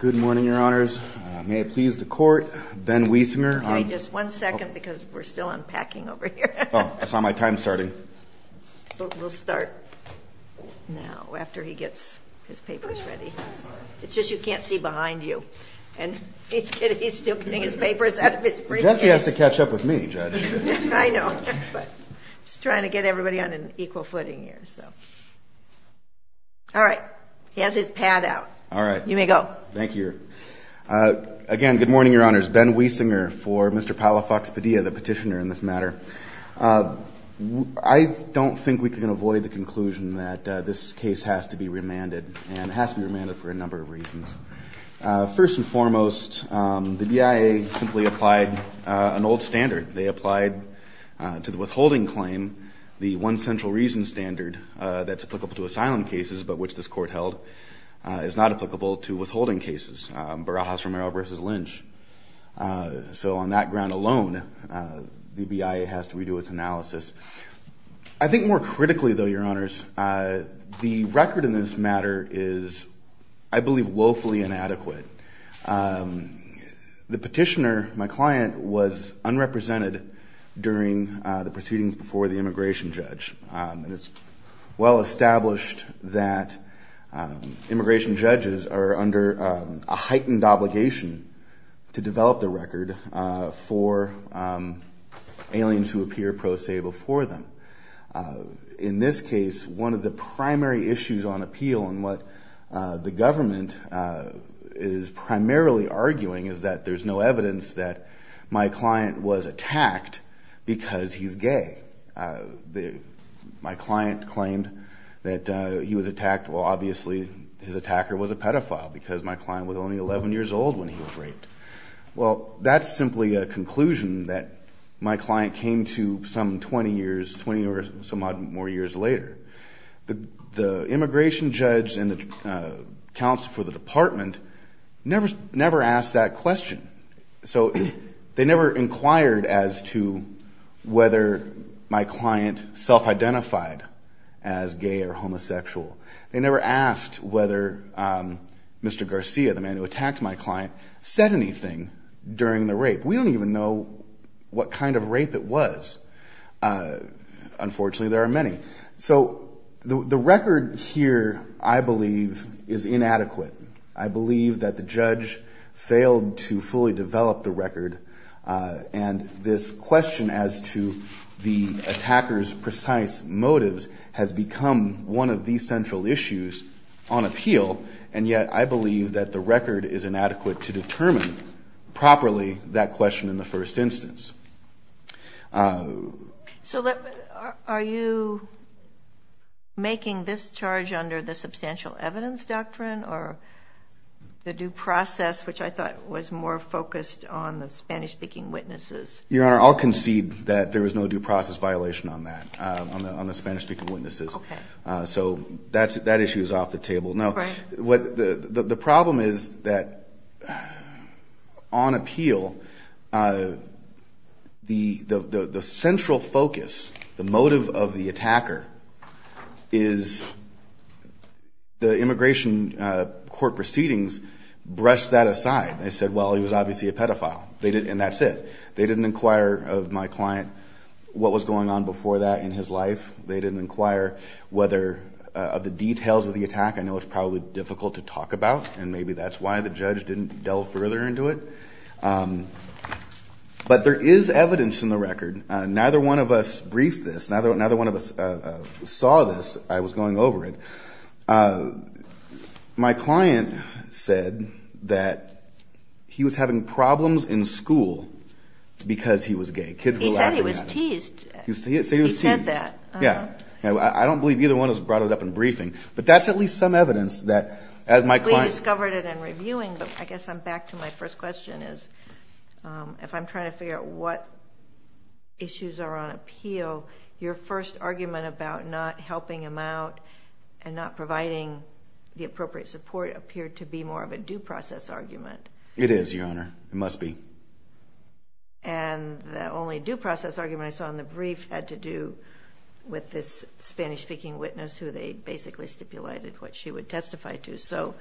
Good morning, Your Honors. May it please the Court, Ben Wiesner. Excuse me, just one second because we're still unpacking over here. Oh, I saw my time starting. We'll start now after he gets his papers ready. It's just you can't see behind you, and he's still getting his papers out of his briefcase. Jesse has to catch up with me, Judge. I know, but I'm just trying to get everybody on an equal footing here. All right, he has his pad out. You may go. Thank you. Again, good morning, Your Honors. Ben Wiesner for Mr. Palafox Padilla, the petitioner in this matter. I don't think we can avoid the conclusion that this case has to be remanded, and it has to be remanded for a number of reasons. First and foremost, the BIA simply applied an old standard. They applied to the withholding claim the one central reason standard that's applicable to asylum cases, but which this Court held is not applicable to withholding cases, Barajas-Romero v. Lynch. So on that ground alone, the BIA has to redo its analysis. I think more critically, though, Your Honors, the record in this matter is, I believe, woefully inadequate. The petitioner, my client, was unrepresented during the proceedings before the immigration judge, and it's well established that immigration judges are under a heightened obligation to develop the record for aliens who appear pro se before them. In this case, one of the primary issues on appeal, and what the government is primarily arguing, is that there's no evidence that my client was attacked because he's gay. My client claimed that he was attacked. Well, obviously, his attacker was a pedophile because my client was only 11 years old when he was raped. Well, that's simply a conclusion that my client came to some 20 years, 20 or some odd more years later. The immigration judge and the counsel for the department never asked that question. So they never inquired as to whether my client self-identified as gay or homosexual. They never asked whether Mr. Garcia, the man who attacked my client, said anything during the rape. We don't even know what kind of rape it was. Unfortunately, there are many. So the record here, I believe, is inadequate. I believe that the judge failed to fully develop the record, and this question as to the attacker's precise motives has become one of the central issues on appeal, and yet I believe that the record is inadequate to determine properly that question in the first instance. So are you making this charge under the substantial evidence doctrine or the due process, which I thought was more focused on the Spanish-speaking witnesses? Your Honor, I'll concede that there was no due process violation on that, on the Spanish-speaking witnesses. So that issue is off the table. Now, the problem is that on appeal, the central focus, the motive of the attacker, is the immigration court proceedings brushed that aside. They said, well, he was obviously a pedophile, and that's it. They didn't inquire of my client what was going on before that in his life. They didn't inquire whether of the details of the attack. I know it's probably difficult to talk about, and maybe that's why the judge didn't delve further into it. But there is evidence in the record. Neither one of us briefed this. Neither one of us saw this. I was going over it. My client said that he was having problems in school because he was gay. Kids were laughing at him. He said he was teased. He said he was teased. He said that. Yeah. I don't believe either one of us brought it up in briefing, but that's at least some evidence that my client... We discovered it in reviewing, but I guess I'm back to my first question, is if I'm trying to figure out what issues are on appeal, your first argument about not helping him out and not providing the appropriate support appeared to be more of a due process argument. It is, Your Honor. It must be. And the only due process argument I saw in the brief had to do with this Spanish-speaking witness who they basically stipulated what she would testify to. So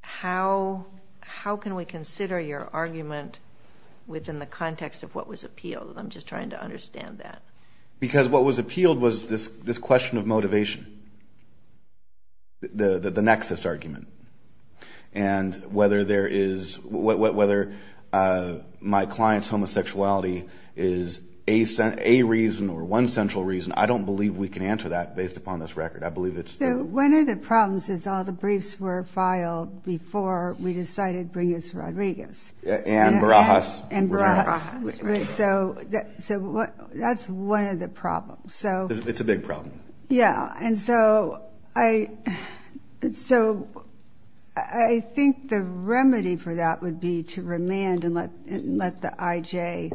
how can we consider your argument within the context of what was appealed? I'm just trying to understand that. Because what was appealed was this question of motivation, the nexus argument. And whether my client's homosexuality is a reason or one central reason, I don't believe we can answer that based upon this record. One of the problems is all the briefs were filed before we decided to bring in Rodriguez. And Barajas. And Barajas. So that's one of the problems. It's a big problem. Yeah. And so I think the remedy for that would be to remand and let the IJ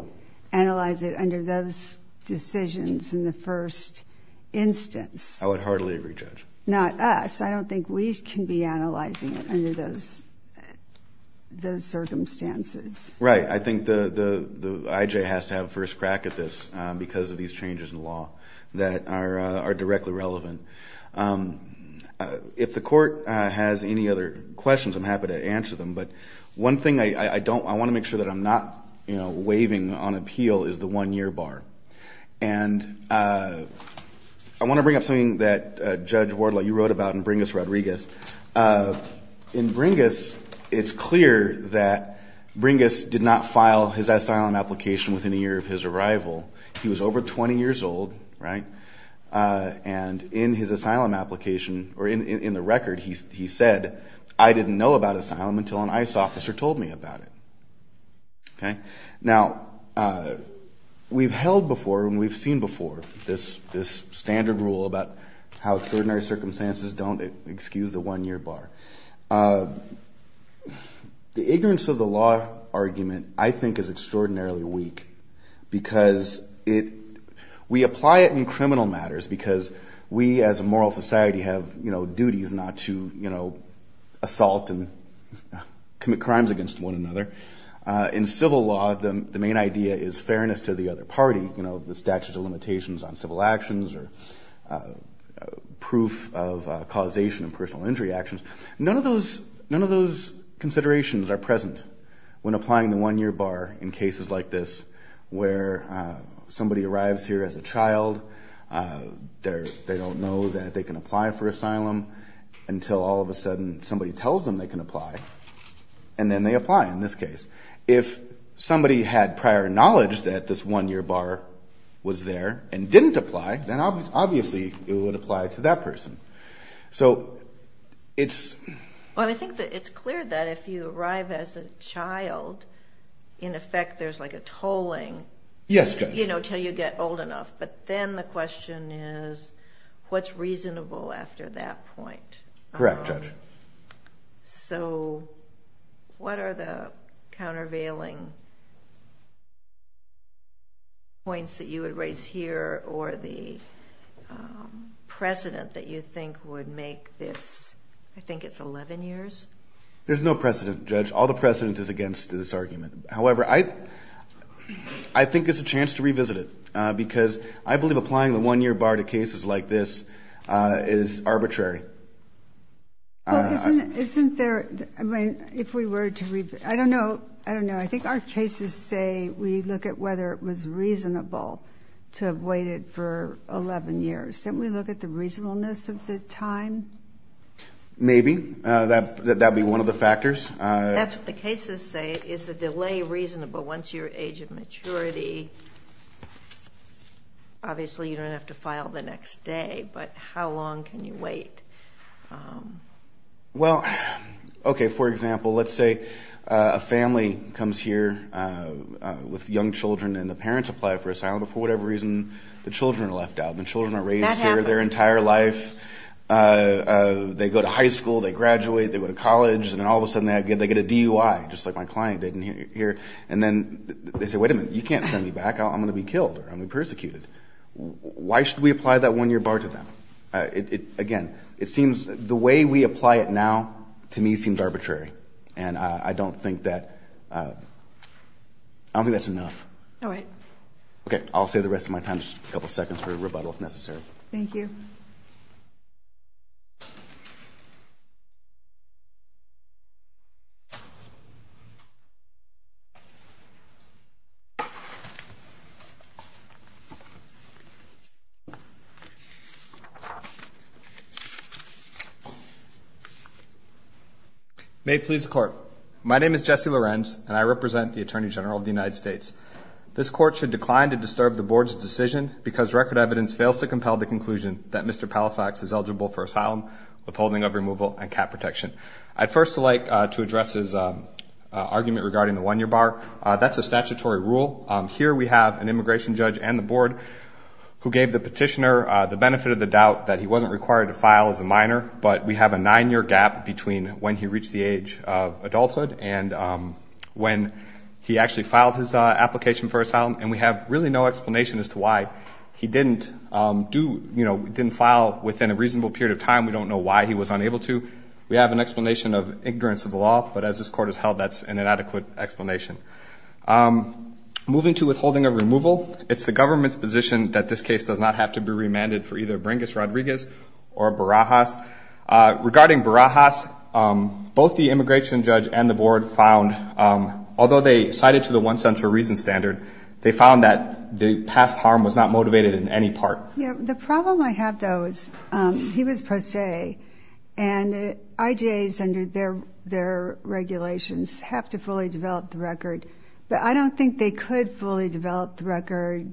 analyze it under those decisions in the first instance. I would heartily agree, Judge. Not us. I don't think we can be analyzing it under those circumstances. Right. I think the IJ has to have a first crack at this because of these changes in law that are directly relevant. If the Court has any other questions, I'm happy to answer them. But one thing I want to make sure that I'm not waving on appeal is the one-year bar. And I want to bring up something that, Judge Wardlaw, you wrote about in Bringas-Rodriguez. In Bringas, it's clear that Bringas did not file his asylum application within a year of his arrival. He was over 20 years old. Right. And in his asylum application or in the record, he said, I didn't know about asylum until an ICE officer told me about it. Okay. Now, we've held before and we've seen before this standard rule about how extraordinary circumstances don't excuse the one-year bar. The ignorance of the law argument, I think, is extraordinarily weak because we apply it in criminal matters because we, as a moral society, have duties not to assault and commit crimes against one another. In civil law, the main idea is fairness to the other party, you know, the statute of limitations on civil actions or proof of causation of personal injury actions. None of those considerations are present when applying the one-year bar in cases like this where somebody arrives here as a child. They don't know that they can apply for asylum until all of a sudden somebody tells them they can apply. And then they apply in this case. If somebody had prior knowledge that this one-year bar was there and didn't apply, then obviously it would apply to that person. So it's – Well, I think that it's clear that if you arrive as a child, in effect, there's like a tolling. Yes, Judge. You know, until you get old enough. But then the question is what's reasonable after that point? Correct, Judge. So what are the countervailing points that you would raise here or the precedent that you think would make this – I think it's 11 years? There's no precedent, Judge. All the precedent is against this argument. However, I think it's a chance to revisit it because I believe applying the one-year bar to cases like this is arbitrary. Well, isn't there – I mean, if we were to – I don't know. I don't know. I think our cases say we look at whether it was reasonable to have waited for 11 years. Didn't we look at the reasonableness of the time? Maybe. That would be one of the factors. That's what the cases say. Is the delay reasonable once you're age of maturity? Obviously, you don't have to file the next day, but how long can you wait? Well, okay, for example, let's say a family comes here with young children and the parents apply for asylum, but for whatever reason, the children are left out. The children are raised here their entire life. That happens. They go to high school. They graduate. They go to college. And then all of a sudden, they get a DUI, just like my client did here. And then they say, wait a minute, you can't send me back. I'm going to be killed or I'm going to be persecuted. Why should we apply that one-year bar to them? Again, it seems the way we apply it now to me seems arbitrary, and I don't think that's enough. All right. Okay, I'll save the rest of my time, just a couple seconds for rebuttal if necessary. Thank you. May it please the Court. My name is Jesse Lorenz, and I represent the Attorney General of the United States. This Court should decline to disturb the Board's decision because record evidence fails to compel the conclusion that Mr. Palafax is eligible for asylum, withholding of removal, and cap protection. I'd first like to address his argument regarding the one-year bar. That's a statutory rule. Here we have an immigration judge and the Board who gave the petitioner the benefit of the doubt that he wasn't required to file as a minor, but we have a nine-year gap between when he reached the age of adulthood and when he actually filed his application for asylum, and we have really no explanation as to why he didn't file within a reasonable period of time. We don't know why he was unable to. We have an explanation of ignorance of the law, but as this Court has held, that's an inadequate explanation. Moving to withholding of removal, it's the government's position that this case does not have to be remanded for either Bringas Rodriguez or Barajas. Regarding Barajas, both the immigration judge and the Board found, although they cited to the one-centure reason standard, they found that the past harm was not motivated in any part. The problem I have, though, is he was pro se, and the IJAs under their regulations have to fully develop the record, but I don't think they could fully develop the record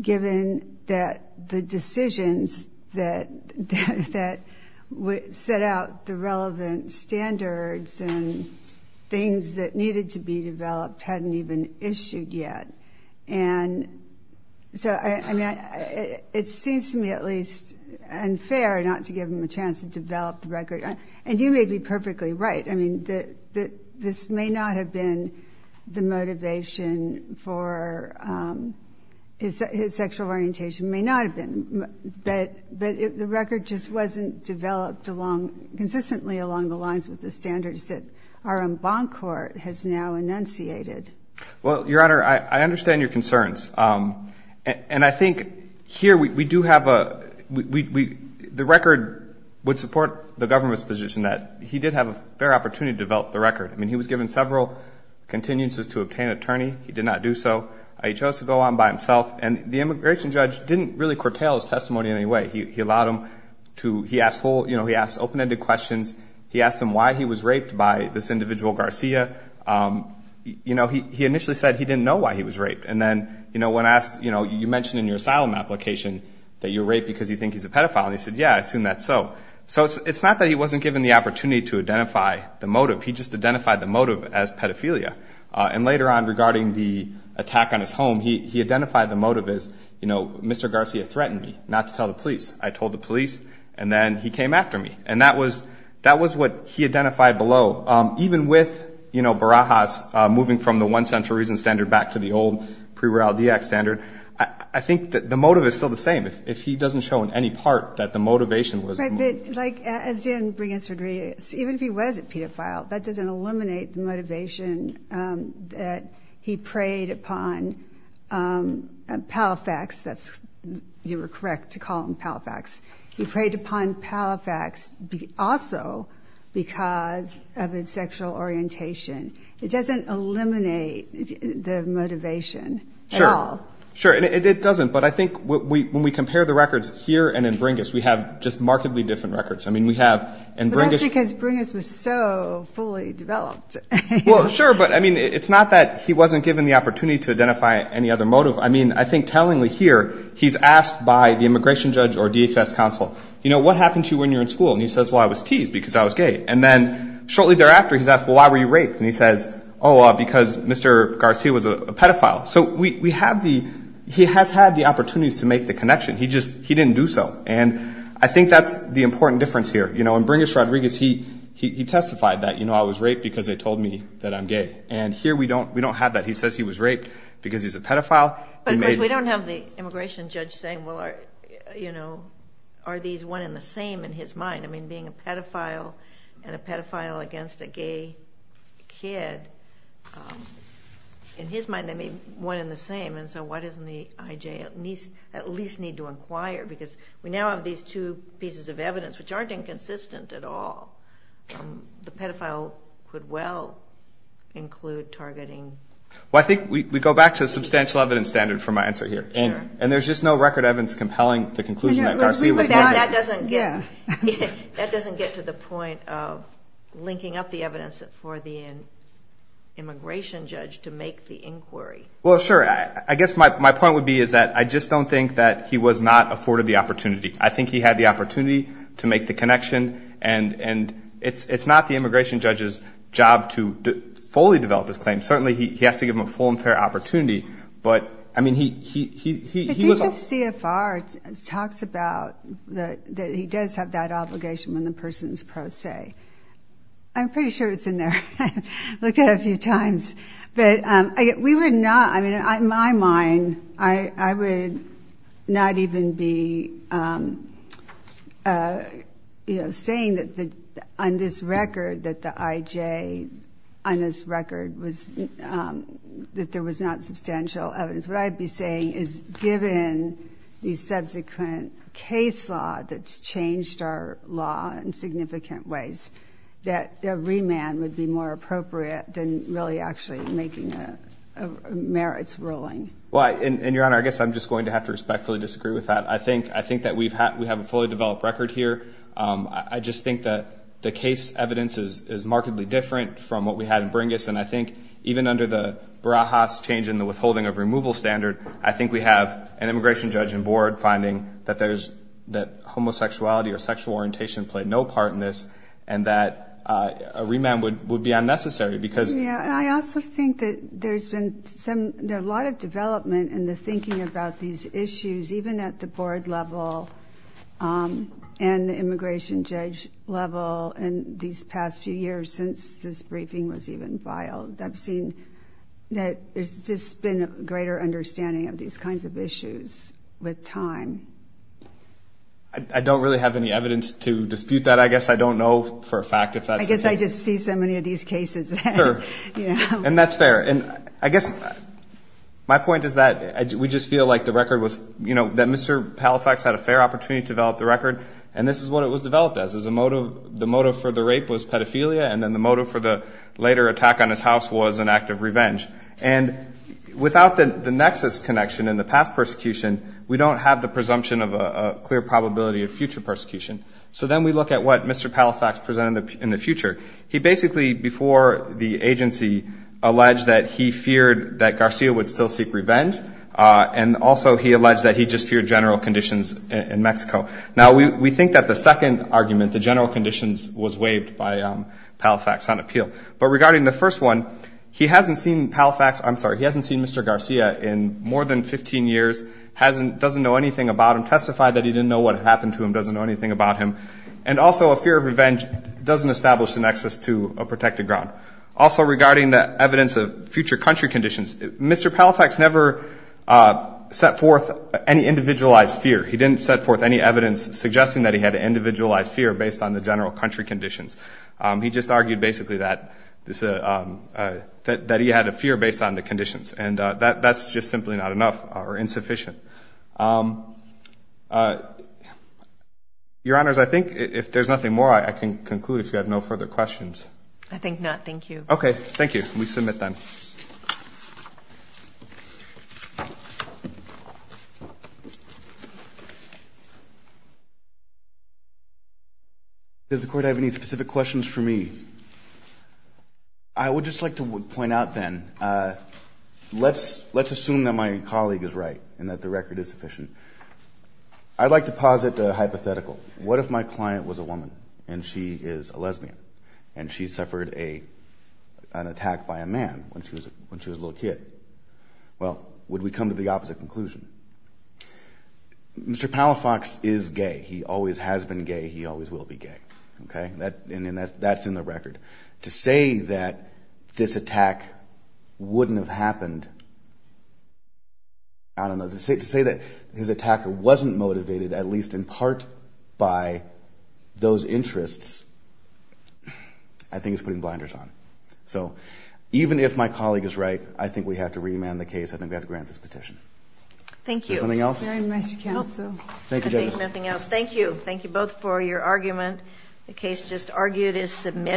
given that the decisions that set out the relevant standards and things that needed to be developed hadn't even issued yet. And so, I mean, it seems to me at least unfair not to give him a chance to develop the record. And you may be perfectly right. I mean, this may not have been the motivation for his sexual orientation. It may not have been, but the record just wasn't developed consistently along the lines with the standards that our own bond court has now enunciated. Well, Your Honor, I understand your concerns. And I think here we do have a ñ the record would support the government's position that he did have a fair opportunity to develop the record. I mean, he was given several continuances to obtain an attorney. He did not do so. He chose to go on by himself, and the immigration judge didn't really curtail his testimony in any way. He allowed him to ñ he asked full ñ you know, he asked open-ended questions. He asked him why he was raped by this individual Garcia. You know, he initially said he didn't know why he was raped. And then, you know, when asked ñ you know, you mentioned in your asylum application that you were raped because you think he's a pedophile. And he said, yeah, I assume that's so. So it's not that he wasn't given the opportunity to identify the motive. He just identified the motive as pedophilia. And later on, regarding the attack on his home, he identified the motive as, you know, Mr. Garcia threatened me not to tell the police. I told the police, and then he came after me. And that was ñ that was what he identified below. So even with, you know, Barajas moving from the one-century reason standard back to the old pre-Royalty Act standard, I think that the motive is still the same. If he doesn't show in any part that the motivation was the motive. Right. But, like, as in Briggs v. Rodriguez, even if he was a pedophile, that doesn't eliminate the motivation that he preyed upon Palifax. That's ñ you were correct to call him Palifax. He preyed upon Palifax also because of his sexual orientation. It doesn't eliminate the motivation at all. Sure. Sure. And it doesn't. But I think when we compare the records here and in Bringas, we have just markedly different records. I mean, we have in Bringas ñ But that's because Bringas was so fully developed. Well, sure. But, I mean, it's not that he wasn't given the opportunity to identify any other motive. I mean, I think tellingly here he's asked by the immigration judge or DHS counsel, you know, what happened to you when you were in school? And he says, well, I was teased because I was gay. And then shortly thereafter he's asked, well, why were you raped? And he says, oh, because Mr. Garcia was a pedophile. So we have the ñ he has had the opportunities to make the connection. He just ñ he didn't do so. And I think that's the important difference here. You know, in Bringas v. Rodriguez, he testified that, you know, I was raped because they told me that I'm gay. And here we don't have that. He says he was raped because he's a pedophile. But, of course, we don't have the immigration judge saying, well, you know, are these one and the same in his mind? I mean, being a pedophile and a pedophile against a gay kid, in his mind they may be one and the same. And so why doesn't the IJ at least need to inquire? Because we now have these two pieces of evidence which aren't inconsistent at all. The pedophile could well include targeting. Well, I think we go back to the substantial evidence standard for my answer here. And there's just no record evidence compelling the conclusion that Garcia wasÖ But that doesn't get to the point of linking up the evidence for the immigration judge to make the inquiry. Well, sure. I guess my point would be is that I just don't think that he was not afforded the opportunity. I think he had the opportunity to make the connection. And it's not the immigration judge's job to fully develop his claim. Certainly, he has to give them a full and fair opportunity. But, I mean, he wasÖ If he just CFR talks about that he does have that obligation when the person is pro se, I'm pretty sure it's in there. I looked at it a few times. But we would not, I mean, in my mind, I would not even be saying that on this record that the IJ, on this record, that there was not substantial evidence. What I'd be saying is given the subsequent case law that's changed our law in significant ways, that a remand would be more appropriate than really actually making a merits ruling. Well, and, Your Honor, I guess I'm just going to have to respectfully disagree with that. I think that we have a fully developed record here. I just think that the case evidence is markedly different from what we had in Bringus. And I think even under the Barajas change in the withholding of removal standard, I think we have an immigration judge and board finding that homosexuality or sexual orientation played no part in this and that a remand would be unnecessary becauseÖ Yeah, and I also think that there's been a lot of development in the thinking about these issues, even at the board level and the immigration judge level in these past few years since this briefing was even filed. I've seen that there's just been a greater understanding of these kinds of issues with time. I don't really have any evidence to dispute that. I guess I don't know for a fact if that's the case. I guess I just see so many of these cases. Sure. And that's fair. And I guess my point is that we just feel like the record was, you know, that Mr. Palafax had a fair opportunity to develop the record. And this is what it was developed as, is the motive for the rape was pedophilia and then the motive for the later attack on his house was an act of revenge. And without the nexus connection in the past persecution, we don't have the presumption of a clear probability of future persecution. So then we look at what Mr. Palafax presented in the future. He basically, before the agency, alleged that he feared that Garcia would still seek revenge and also he alleged that he just feared general conditions in Mexico. Now, we think that the second argument, the general conditions, was waived by Palafax on appeal. But regarding the first one, he hasn't seen Palafax, I'm sorry, he hasn't seen Mr. Garcia in more than 15 years, doesn't know anything about him, testified that he didn't know what happened to him, doesn't know anything about him, and also a fear of revenge doesn't establish the nexus to a protected ground. Also regarding the evidence of future country conditions, Mr. Palafax never set forth any individualized fear. He didn't set forth any evidence suggesting that he had an individualized fear based on the general country conditions. He just argued basically that he had a fear based on the conditions and that's just simply not enough or insufficient. Your Honors, I think if there's nothing more, I can conclude if you have no further questions. I think not. Thank you. Okay. Thank you. We submit then. Does the Court have any specific questions for me? I would just like to point out then, let's assume that my colleague is right and that the record is sufficient. I'd like to posit a hypothetical. What if my client was a woman and she is a lesbian and she suffered an attack by a man when she was a child? Well, would we come to the opposite conclusion? Mr. Palafax is gay. He always has been gay. He always will be gay. Okay. And that's in the record. To say that this attack wouldn't have happened, I don't know, to say that his attack wasn't motivated at least in part by those interests, I think is putting blinders on. So even if my colleague is right, I think we have to remand the case. I think we have to grant this petition. Thank you. Is there something else? No. Thank you, Judge. There's nothing else. Thank you. Thank you both for your argument. The case just argued is submitted.